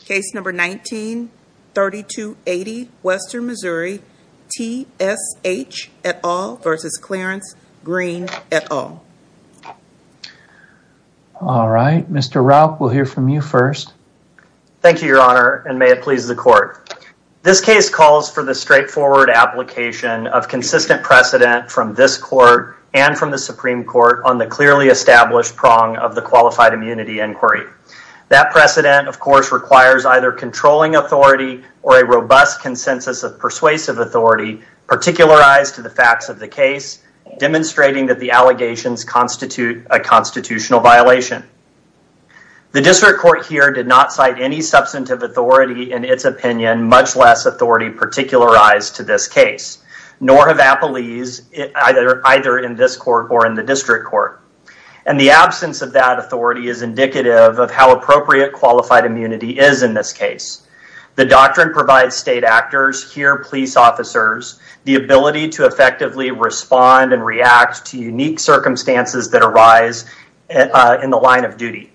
Case number 19-3280, Western Missouri, T.S.H. et al. v. Clarence Green et al. All right, Mr. Rauch, we'll hear from you first. Thank you, Your Honor, and may it please the Court. This case calls for the straightforward application of consistent precedent from this Court and from the Supreme Court on the clearly established prong of the Qualified Immunity Inquiry. That precedent, of course, requires either controlling authority or a robust consensus of persuasive authority particularized to the facts of the case, demonstrating that the allegations constitute a constitutional violation. The District Court here did not cite any substantive authority in its opinion, much less authority particularized to this case, nor have appellees either in this Court or in the District Court. And the absence of that authority is indicative of how appropriate qualified immunity is in this case. The doctrine provides state actors, here police officers, the ability to effectively respond and react to unique circumstances that arise in the line of duty.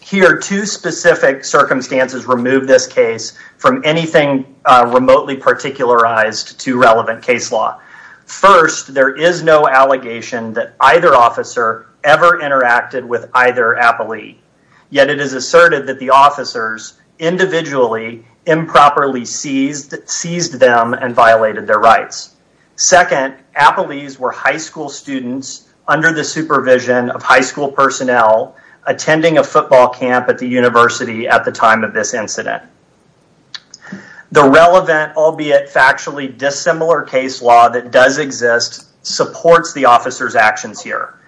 Here, two specific circumstances remove this case from anything remotely particularized to relevant case law. First, there is no allegation that either officer ever interacted with either appellee, yet it is asserted that the officers individually improperly seized them and violated their rights. Second, appellees were high school students under the supervision of high school personnel attending a football camp at the university at the time of this incident. The relevant albeit factually dissimilar case law that does exist supports the officer's actions here.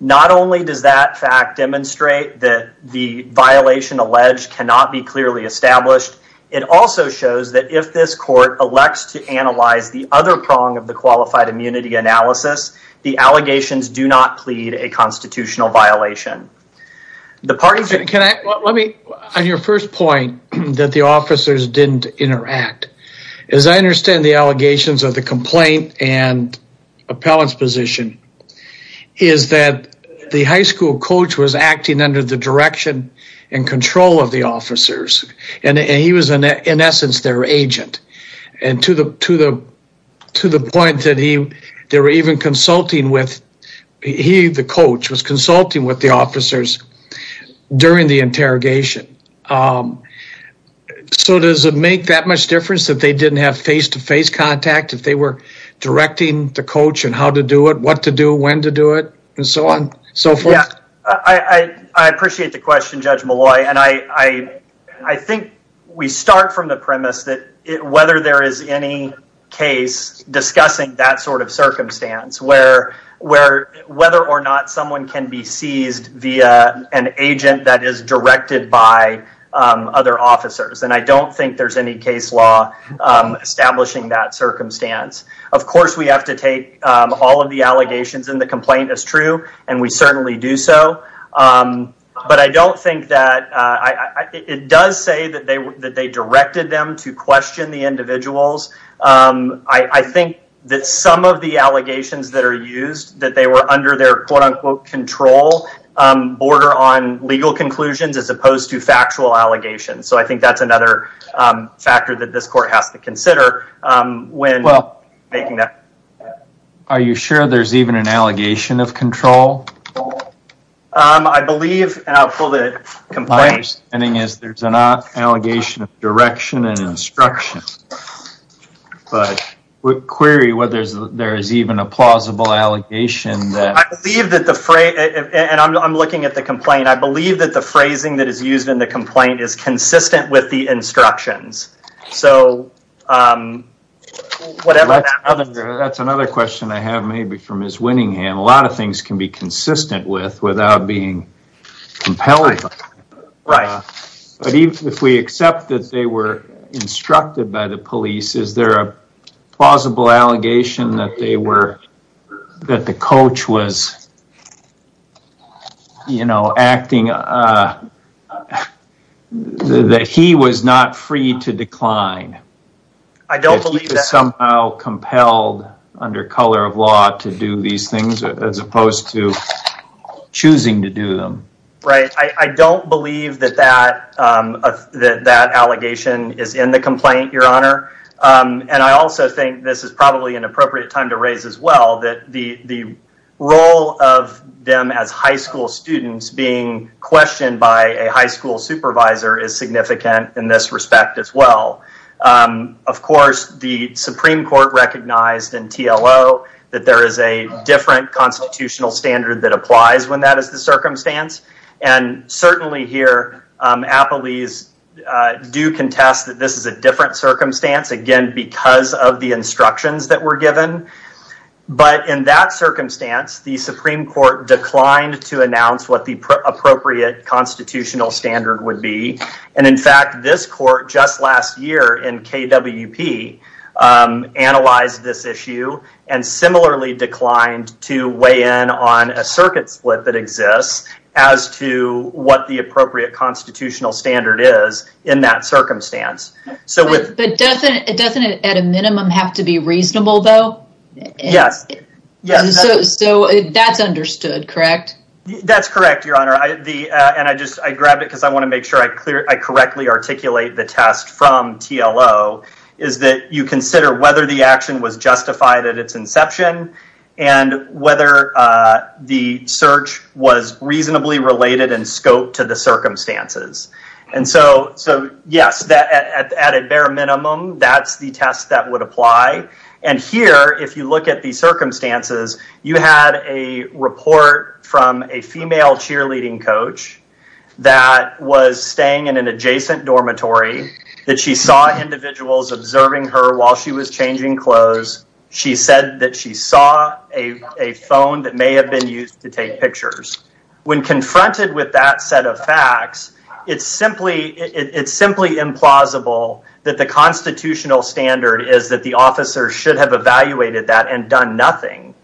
Not only does that fact demonstrate that the violation alleged cannot be clearly established, it also shows that if this Court elects to analyze the other prong of the qualified immunity analysis, the allegations do not plead a constitutional violation. On your first point, that the officers didn't interact, as I understand the allegations of the complaint and appellant's position, is that the high school coach was acting under the direction and control of the officers. And he was in essence their agent. And to the point that they were even consulting with, he, the coach, was consulting with the officers during the interrogation. So does it make that much difference that they didn't have face-to-face contact if they were directing the coach on how to do it, what to do, when to do it, and so on and so forth? I appreciate the question, Judge Malloy. And I think we start from the premise that whether there is any case discussing that sort of circumstance, where whether or not someone can be seized via an agent that is directed by other officers. And I don't think there's any case law establishing that circumstance. Of course, we have to take all of the allegations in the complaint as true, and we certainly do so. But I don't think that, it does say that they directed them to question the individuals. I think that some of the allegations that are used, that they were under their quote-unquote control, border on legal conclusions as opposed to factual allegations. So I think that's another factor that this court has to consider. Well, are you sure there's even an allegation of control? I believe, and I'll pull the complaint. My understanding is there's an allegation of direction and instruction. But query whether there is even a plausible allegation that... I believe that the phrase, and I'm looking at the complaint, I believe that the phrasing that is used in the complaint is consistent with the instructions. So, whatever that... That's another question I have maybe from Ms. Winningham. A lot of things can be consistent with without being compelled. Right. But even if we accept that they were instructed by the police, is there a plausible allegation that they were, that the coach was, you know, acting... That he was not free to decline? I don't believe that. That he was somehow compelled under color of law to do these things as opposed to choosing to do them? Right. I don't believe that that allegation is in the complaint, Your Honor. And I also think this is probably an appropriate time to raise as well that the role of them as high school students being questioned by a high school supervisor is significant in this respect as well. Of course, the Supreme Court recognized in TLO that there is a different constitutional standard that applies when that is the circumstance. And certainly here, appellees do contest that this is a different circumstance, again, because of the instructions that were given. But in that circumstance, the Supreme Court declined to announce what the appropriate constitutional standard would be. And in fact, this court just last year in KWP analyzed this issue and similarly declined to weigh in on a circuit split that exists as to what the appropriate constitutional standard is in that circumstance. But doesn't it at a minimum have to be reasonable, though? Yes. So that's understood, correct? That's correct, Your Honor. And I grabbed it because I want to make sure I correctly articulate the test from TLO is that you consider whether the action was justified at its inception and whether the search was reasonably related in scope to the circumstances. And so, yes, at a bare minimum, that's the test that would apply. And here, if you look at the circumstances, you had a report from a female cheerleading coach that was staying in an adjacent dormitory, that she saw individuals observing her while she was changing clothes. She said that she saw a phone that may have been used to take pictures. When confronted with that set of facts, it's simply implausible that the constitutional standard is that the officer should have evaluated that and done nothing.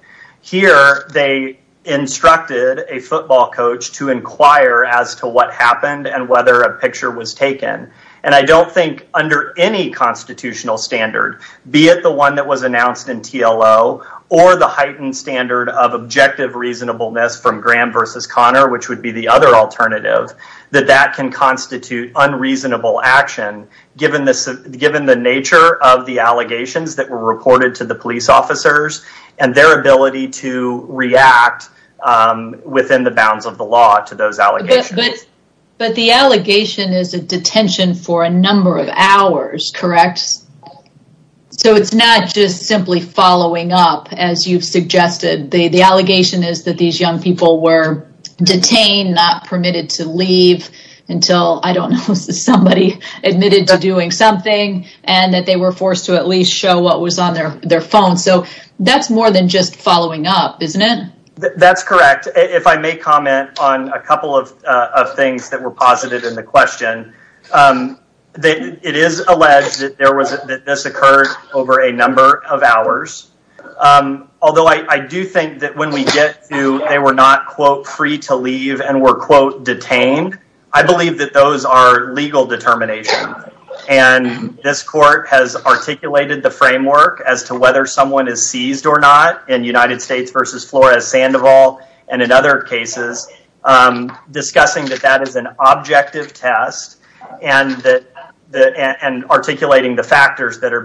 Here, they instructed a football coach to inquire as to what happened and whether a picture was taken. And I don't think under any constitutional standard, be it the one that was announced in TLO or the heightened standard of objective reasonableness from Graham versus Connor, which would be the other alternative, that that can constitute unreasonable action given the nature of the allegations that were reported to the police officers and their ability to react within the bounds of the law to those allegations. But the allegation is a detention for a number of hours, correct? Yes. So it's not just simply following up, as you've suggested. The allegation is that these young people were detained, not permitted to leave until, I don't know, somebody admitted to doing something and that they were forced to at least show what was on their phone. So that's more than just following up, isn't it? That's correct. If I may comment on a couple of things that were posited in the question, it is alleged that this occurred over a number of hours. Although I do think that when we get to they were not, quote, free to leave and were, quote, detained, I believe that those are legal determination. And this court has articulated the framework as to whether someone is seized or not in United States versus Flores-Sandoval and in other cases, discussing that that is an objective test and articulating the factors that are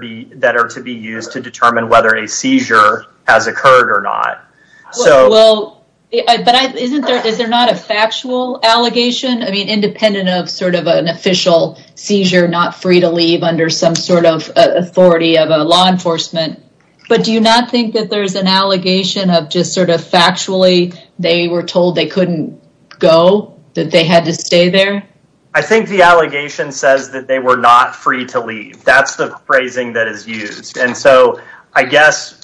to be used to determine whether a seizure has occurred or not. Well, but is there not a factual allegation? I mean, independent of sort of an official seizure, not free to leave under some sort of authority of a law enforcement. But do you not think that there's an allegation of just sort of factually they were told they couldn't go, that they had to stay there? I think the allegation says that they were not free to leave. That's the phrasing that is used. And so I guess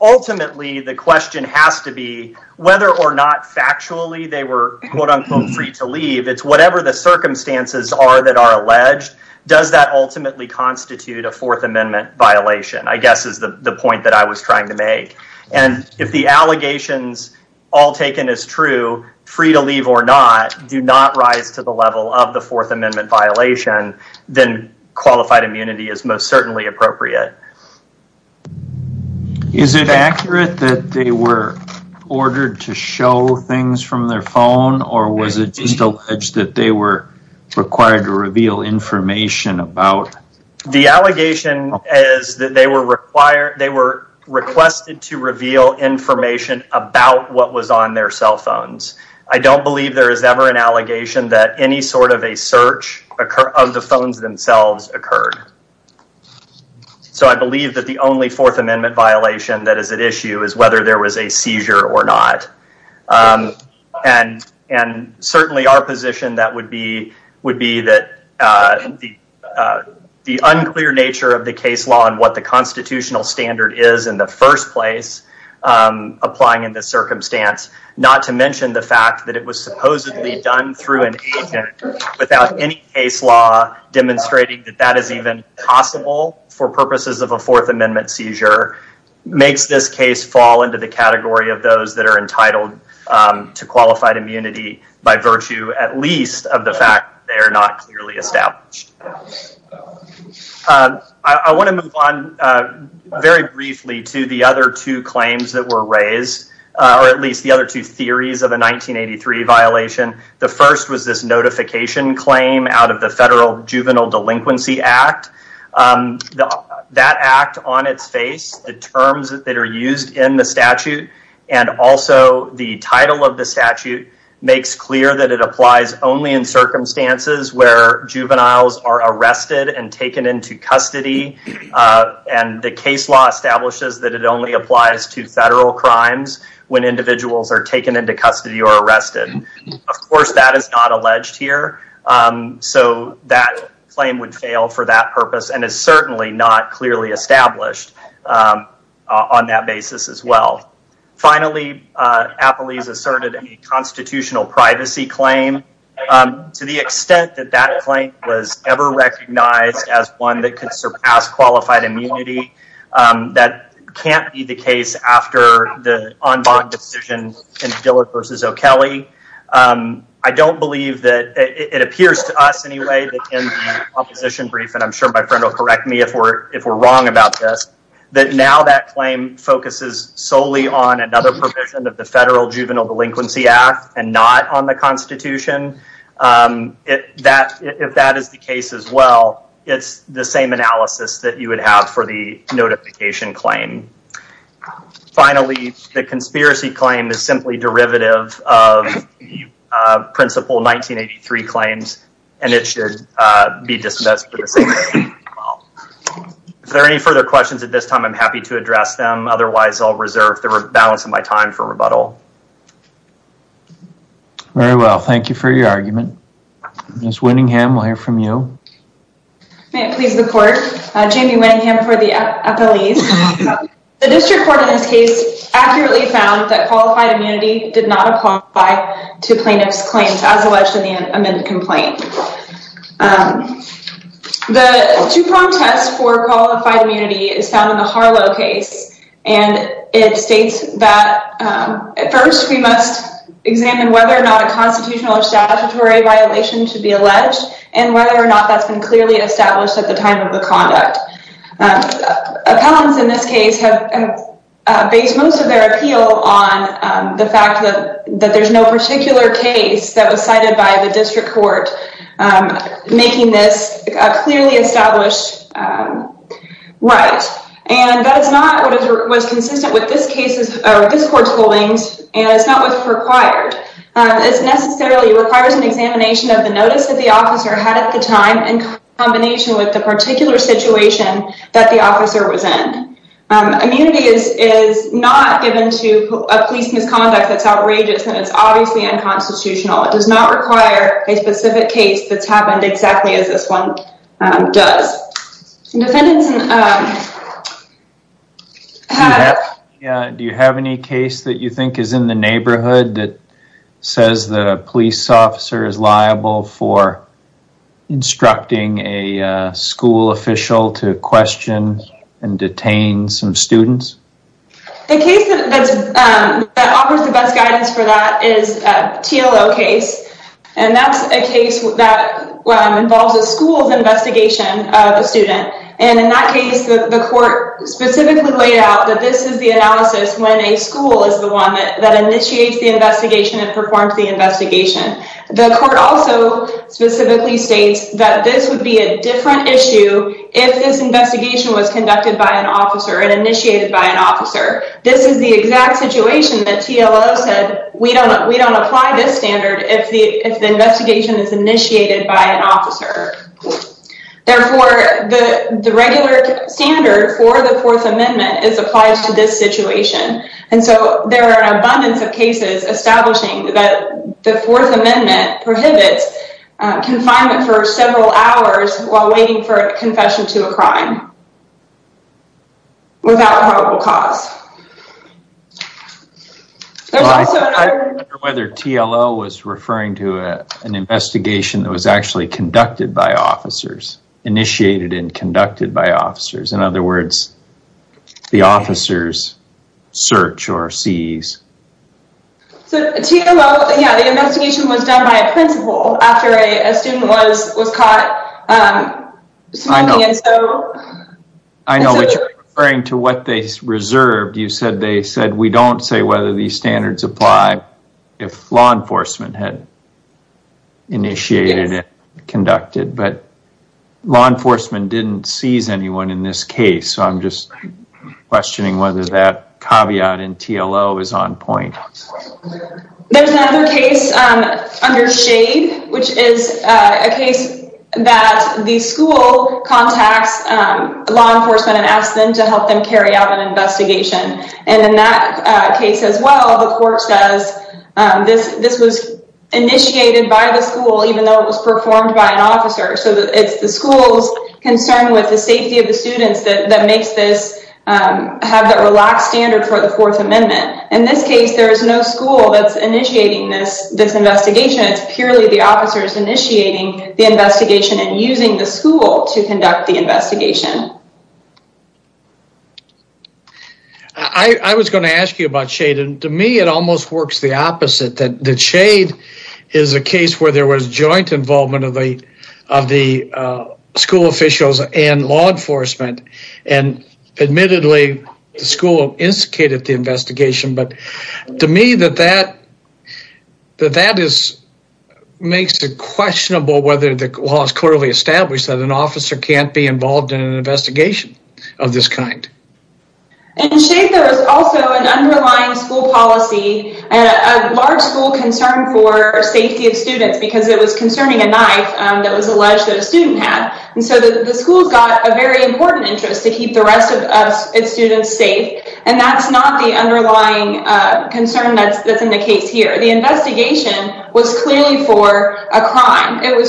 ultimately the question has to be whether or not factually they were, quote, unquote, free to leave. It's whatever the circumstances are that are alleged. Does that ultimately constitute a Fourth Amendment violation? I guess is the point that I was trying to make. And if the allegations all taken as true, free to leave or not, do not rise to the level of the Fourth Amendment violation, then qualified immunity is most certainly appropriate. Is it accurate that they were ordered to show things from their phone or was it just alleged that they were required to reveal information about? The allegation is that they were required, they were requested to reveal information about what was on their cell phones. I don't believe there is ever an allegation that any sort of a search of the phones themselves occurred. So I believe that the only Fourth Amendment violation that is at issue is whether there was a seizure or not. And certainly our position that would be would be that the unclear nature of the case law and what the constitutional standard is in the first place applying in this circumstance, not to mention the fact that it was supposedly done through an agent without any case law demonstrating that that is even possible for purposes of a Fourth Amendment seizure makes this case fall into the category of those that are entitled to qualified immunity by virtue at least of the fact that they are not clearly established. I want to move on very briefly to the other two claims that were raised or at least the other two theories of a 1983 violation. The first was this notification claim out of the Federal Juvenile Delinquency Act. That act on its face, the terms that are used in the statute and also the title of the statute makes clear that it applies only in circumstances where juveniles are arrested and taken into custody and the case law establishes that it only applies to federal crimes when individuals are taken into custody or arrested. Of course, that is not alleged here. So that claim would fail for that purpose and is certainly not clearly established on that basis as well. Finally, Applees asserted a constitutional privacy claim to the extent that that claim was ever recognized as one that could surpass qualified immunity. That can't be the case after the en banc decision in Dillard v. O'Kelley. I don't believe that it appears to us anyway that in the opposition brief, and I'm sure my friend will correct me if we're wrong about this, that now that claim focuses solely on another provision of the Federal Juvenile Delinquency Act and not on the Constitution. If that is the case as well, it's the same analysis that you would have for the notification claim. Finally, the conspiracy claim is simply derivative of the principle 1983 claims and it should be dismissed for the same reason as well. If there are any further questions at this time, I'm happy to address them. Otherwise, I'll reserve the balance of my time for rebuttal. Very well, thank you for your argument. Ms. Winningham, we'll hear from you. May it please the court, Jamie Winningham for the appellees. The district court in this case accurately found that qualified immunity did not apply to plaintiff's claims as alleged in the amended complaint. The two-prong test for qualified immunity is found in the Harlow case and it states that, at first we must examine whether or not a constitutional or statutory violation should be alleged and whether or not that's been clearly established at the time of the conduct. Appellants in this case have based most of their appeal on the fact that there's no particular case that was cited by the district court making this a clearly established right. And that is not what was consistent with this court's holdings and it's not what's required. It necessarily requires an examination of the notice that the officer had at the time in combination with the particular situation that the officer was in. Immunity is not given to a police misconduct that's outrageous and it's obviously unconstitutional. It does not require a specific case that's happened exactly as this one does. Do you have any case that you think is in the neighborhood that says that a police officer is liable for instructing a school official to question and detain some students? The case that offers the best guidance for that is a TLO case and that's a case that involves a school's investigation of a student. And in that case, the court specifically laid out that this is the analysis when a school is the one that initiates the investigation and performs the investigation. The court also specifically states that this would be a different issue if this investigation was conducted by an officer and initiated by an officer. This is the exact situation that TLO said, we don't apply this standard if the investigation is initiated by an officer. Therefore, the regular standard for the Fourth Amendment is applied to this situation. And so there are an abundance of cases establishing that the Fourth Amendment prohibits confinement for several hours while waiting for a confession to a crime without a horrible cause. I wonder whether TLO was referring to an investigation that was actually conducted by officers, initiated and conducted by officers. In other words, the officers search or seize. So TLO, yeah, the investigation was done by a principal after a student was caught smoking and so... I know, but you're referring to what they reserved. You said they said, we don't say whether these standards apply if law enforcement had initiated it, conducted. But law enforcement didn't seize anyone in this case. So I'm just questioning whether that caveat in TLO is on point. There's another case under SHADE, which is a case that the school contacts law enforcement and asks them to help them carry out an investigation. And in that case as well, the court says, this was initiated by the school, even though it was performed by an officer. So it's the school's concern with the safety of the students that makes this have that relaxed standard for the Fourth Amendment. In this case, there is no school that's initiating this investigation. It's purely the officers initiating the investigation and using the school to conduct the investigation. I was going to ask you about SHADE. And to me, it almost works the opposite. That SHADE is a case where there was joint involvement of the school officials and law enforcement. And admittedly, the school instigated the investigation. But to me, that makes it questionable whether the law is clearly established that an officer can't be involved in an investigation of this kind. In SHADE, there is also an underlying school policy, a large school concern for safety of students because it was concerning a knife that was alleged that a student had. And so the school's got a very important interest to keep the rest of its students safe. And that's not the underlying concern that's in the case here. The investigation was clearly for a crime. It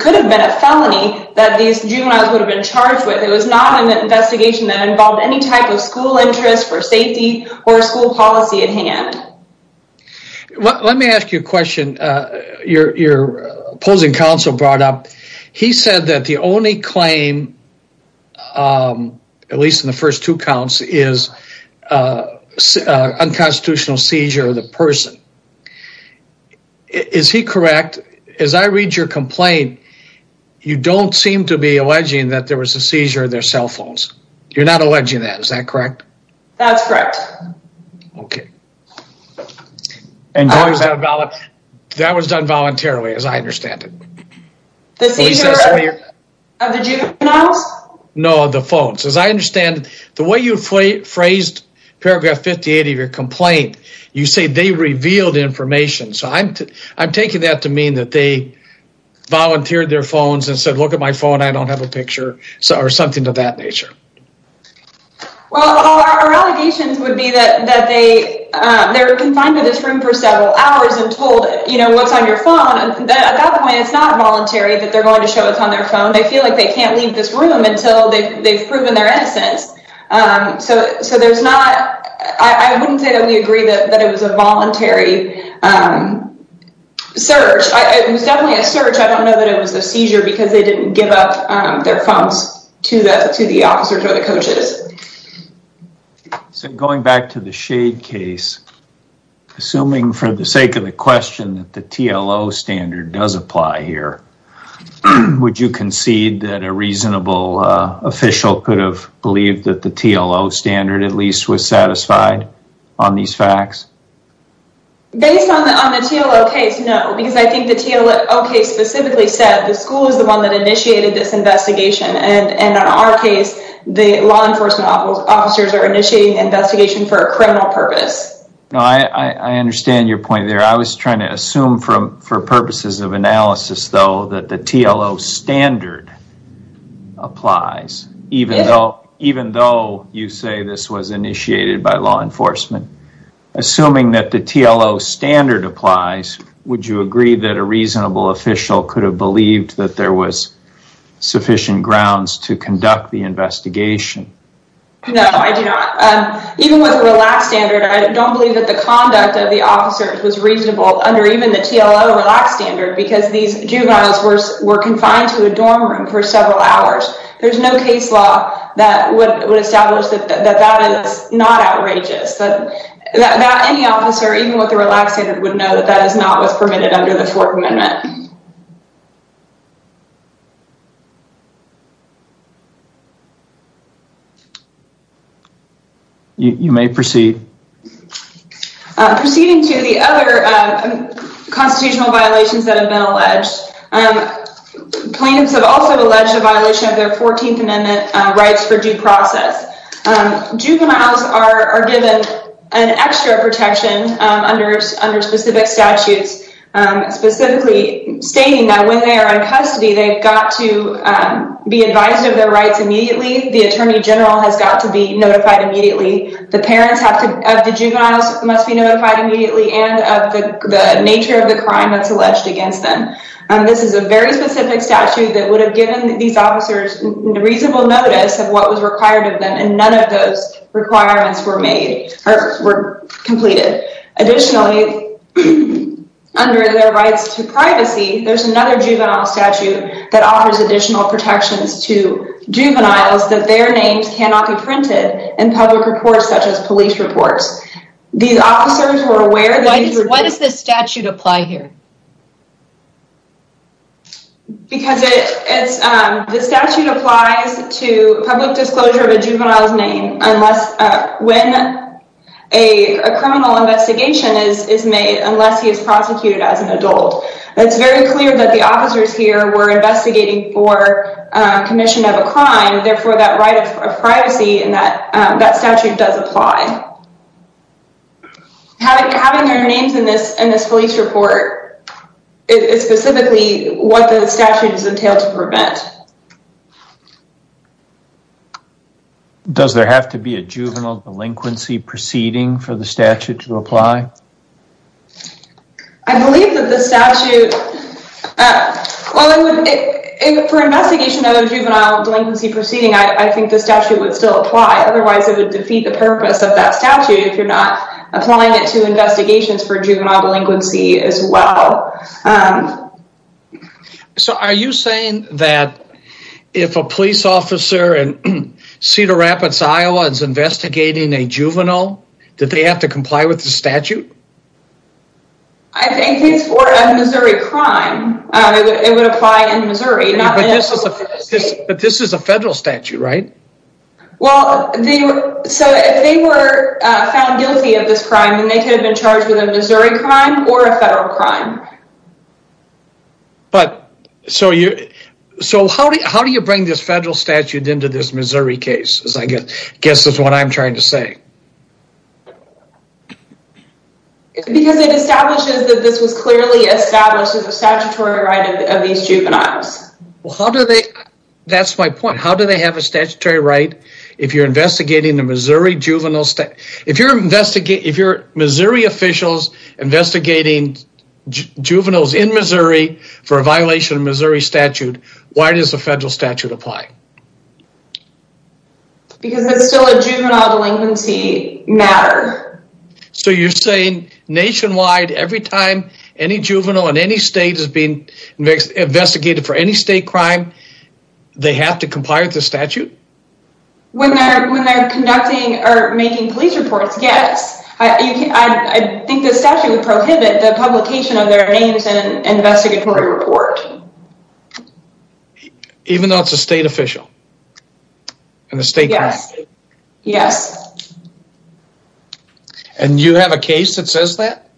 could have been a felony that these juveniles would have been charged with. It was not an investigation that involved any type of school interest for safety or school policy at hand. Let me ask you a question your opposing counsel brought up. He said that the only claim, at least in the first two counts, is unconstitutional seizure of the person. Is he correct? As I read your complaint, you don't seem to be alleging that there was a seizure of their cell phones. You're not alleging that, is that correct? That's correct. Okay. And that was done voluntarily, as I understand it. The seizure of the juveniles? No, the phones. As I understand it, the way you phrased paragraph 58 of your complaint, you say they revealed information. So I'm taking that to mean that they volunteered their phones and said, look at my phone, I don't have a picture, or something of that nature. Well, our allegations would be that they're confined to this room for several hours and told, you know, what's on your phone. At that point, it's not voluntary that they're going to show us on their phone. They feel like they can't leave this room until they've proven their innocence. So there's not... I wouldn't say that we agree that it was a voluntary search. It was definitely a search. I don't know that it was a seizure because they didn't give up their phones to the officers or the coaches. So going back to the shade case, assuming for the sake of the question that the TLO standard does apply here, would you concede that a reasonable official could have believed that the TLO standard, at least, was satisfied on these facts? Based on the TLO case, no, because I think the TLO case specifically said that the school is the one that initiated this investigation. And in our case, the law enforcement officers are initiating investigation for a criminal purpose. No, I understand your point there. I was trying to assume for purposes of analysis, though, that the TLO standard applies, even though you say this was initiated by law enforcement. Assuming that the TLO standard applies, would you agree that a reasonable official could have believed that there was sufficient grounds to conduct the investigation? No, I do not. Even with a relaxed standard, I don't believe that the conduct of the officers was reasonable under even the TLO relaxed standard because these juveniles were confined to a dorm room for several hours. There's no case law that would establish that that is not outrageous. Any officer, even with a relaxed standard, would know that that is not what's permitted under the Fourth Amendment. You may proceed. Proceeding to the other constitutional violations that have been alleged, plaintiffs have also alleged a violation of their Fourteenth Amendment rights for due process. Juveniles are given an extra protection under specific statutes, specifically stating that when they are in custody, they've got to be advised of their rights immediately, the attorney general has got to be notified immediately, the parents of the juveniles must be notified immediately, and of the nature of the crime that's alleged against them. This is a very specific statute that would have given these officers reasonable notice of what was required of them, and none of those requirements were completed. Additionally, under their rights to privacy, there's another juvenile statute that offers additional protections to juveniles that their names cannot be printed in public reports such as police reports. These officers were aware... Why does this statute apply here? Because the statute applies to public disclosure of a juvenile's name unless... When a criminal investigation is made, unless he is prosecuted as an adult. It's very clear that the officers here were investigating for commission of a crime, therefore that right of privacy in that statute does apply. Having their names in this police report is specifically what the statute is entailed to prevent. Does there have to be a juvenile delinquency proceeding for the statute to apply? I believe that the statute... For investigation of a juvenile delinquency proceeding, I think the statute would still apply, otherwise it would defeat the purpose of that statute if you're not applying it to investigations for juvenile delinquency as well. So are you saying that if a police officer in Cedar Rapids, Iowa is investigating a juvenile, that they have to comply with the statute? I think it's for a Missouri crime. It would apply in Missouri. But this is a federal statute, right? Well, so if they were found guilty of this crime, then they could have been charged with a Missouri crime or a federal crime. But so you... So how do you bring this federal statute into this Missouri case, I guess is what I'm trying to say. Because it establishes that this was clearly established as a statutory right of these juveniles. Well, how do they... That's my point. How do they have a statutory right if you're investigating a Missouri juvenile... If you're Missouri officials investigating juveniles in Missouri for a violation of Missouri statute, why does the federal statute apply? Because it's still a juvenile delinquency matter. So you're saying nationwide, every time any juvenile in any state is being investigated for any state crime, they have to comply with the statute? When they're conducting or making police reports, yes. I think the statute would prohibit the publication of their names in an investigatory report. Even though it's a state official? Yes. And you have a case that says that?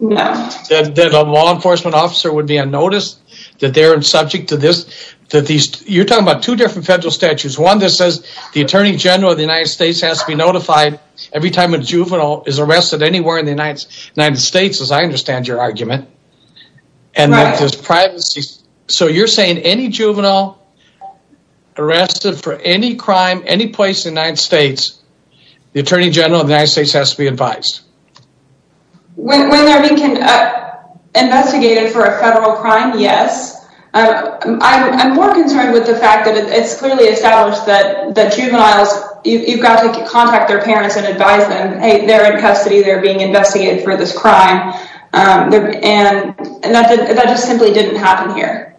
No. That a law enforcement officer would be on notice that they're subject to this... You're talking about two different federal statutes. One that says the Attorney General of the United States has to be notified every time a juvenile is arrested anywhere in the United States, as I understand your argument. Right. And that there's privacy... So you're saying any juvenile arrested for any crime, any place in the United States, the Attorney General of the United States has to be advised? When they're being investigated for a federal crime, yes. I'm more concerned with the fact that it's clearly established that juveniles... They have to contact their parents and advise them, hey, they're in custody, they're being investigated for this crime. And that just simply didn't happen here.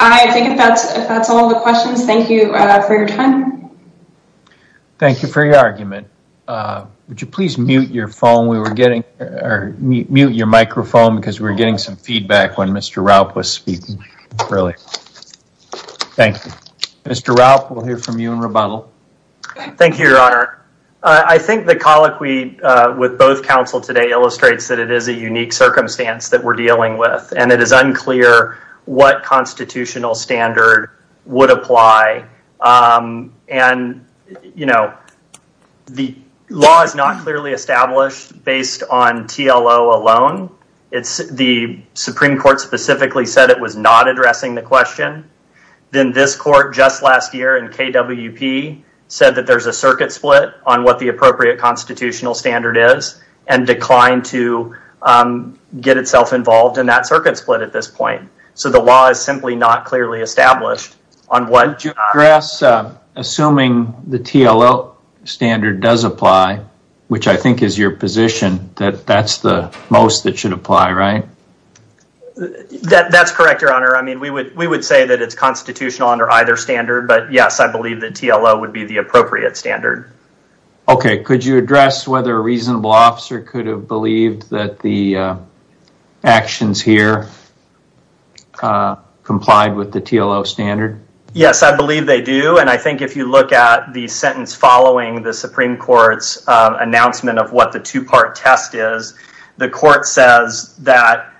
I think if that's all the questions, thank you for your time. Thank you for your argument. Would you please mute your phone? We were getting... Mute your microphone, because we were getting some feedback when Mr. Raup was speaking, really. Thank you. Mr. Raup, we'll hear from you in rebuttal. Thank you, Your Honor. I think the colloquy with both counsel today illustrates that it is a unique circumstance that we're dealing with, and it is unclear what constitutional standard would apply and, you know, the law is not clearly established based on TLO alone. The Supreme Court specifically said it was not addressing the question. Then this court just last year in KWP said that there's a circuit split on what the appropriate constitutional standard is and declined to get itself involved in that circuit split at this point. So the law is simply not clearly established on what... Your Honor, assuming the TLO standard does apply, which I think is your position, that that's the most that should apply, right? That's correct, Your Honor. I mean, we would say that it's constitutional under either standard, but yes, I believe that TLO would be the appropriate standard. Okay, could you address whether a reasonable officer could have believed that the actions here complied with the TLO standard? Yes, I believe they do, and I think if you look at the sentence following the Supreme Court's announcement of what the two-part test is, the court says that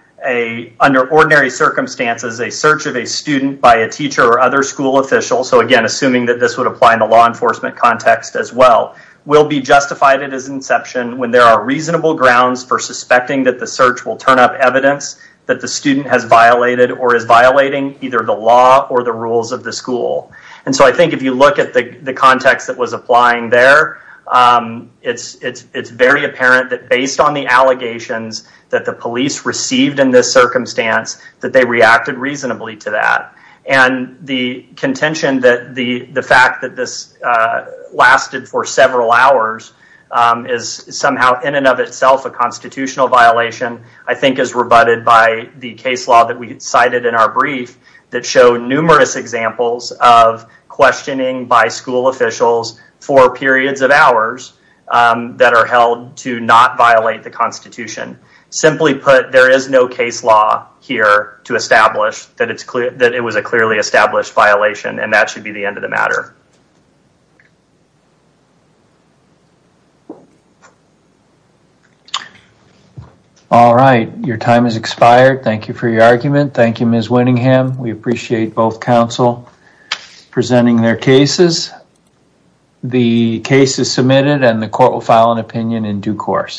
under ordinary circumstances, a search of a student by a teacher or other school official, so again, assuming that this would apply in the law enforcement context as well, will be justified at its inception when there are reasonable grounds for suspecting that the search will turn up evidence that the student has violated or is violating either the law or the rules of the school, and so I think if you look at the context that was applying there, it's very apparent that based on the allegations that the police received in this circumstance that they reacted reasonably to that, and the contention that the fact that this lasted for several hours is somehow in and of itself a constitutional violation, I think is rebutted by the case law that we cited in our brief that showed numerous examples of questioning by school officials for periods of hours that are held to not violate the Constitution. Simply put, there is no case law here to establish that it was a clearly established violation, and that should be the end of the matter. All right. Your time has expired. Thank you for your argument. Thank you, Ms. Winningham. We appreciate both counsel presenting their cases. The case is submitted, and the court will file an opinion in due course.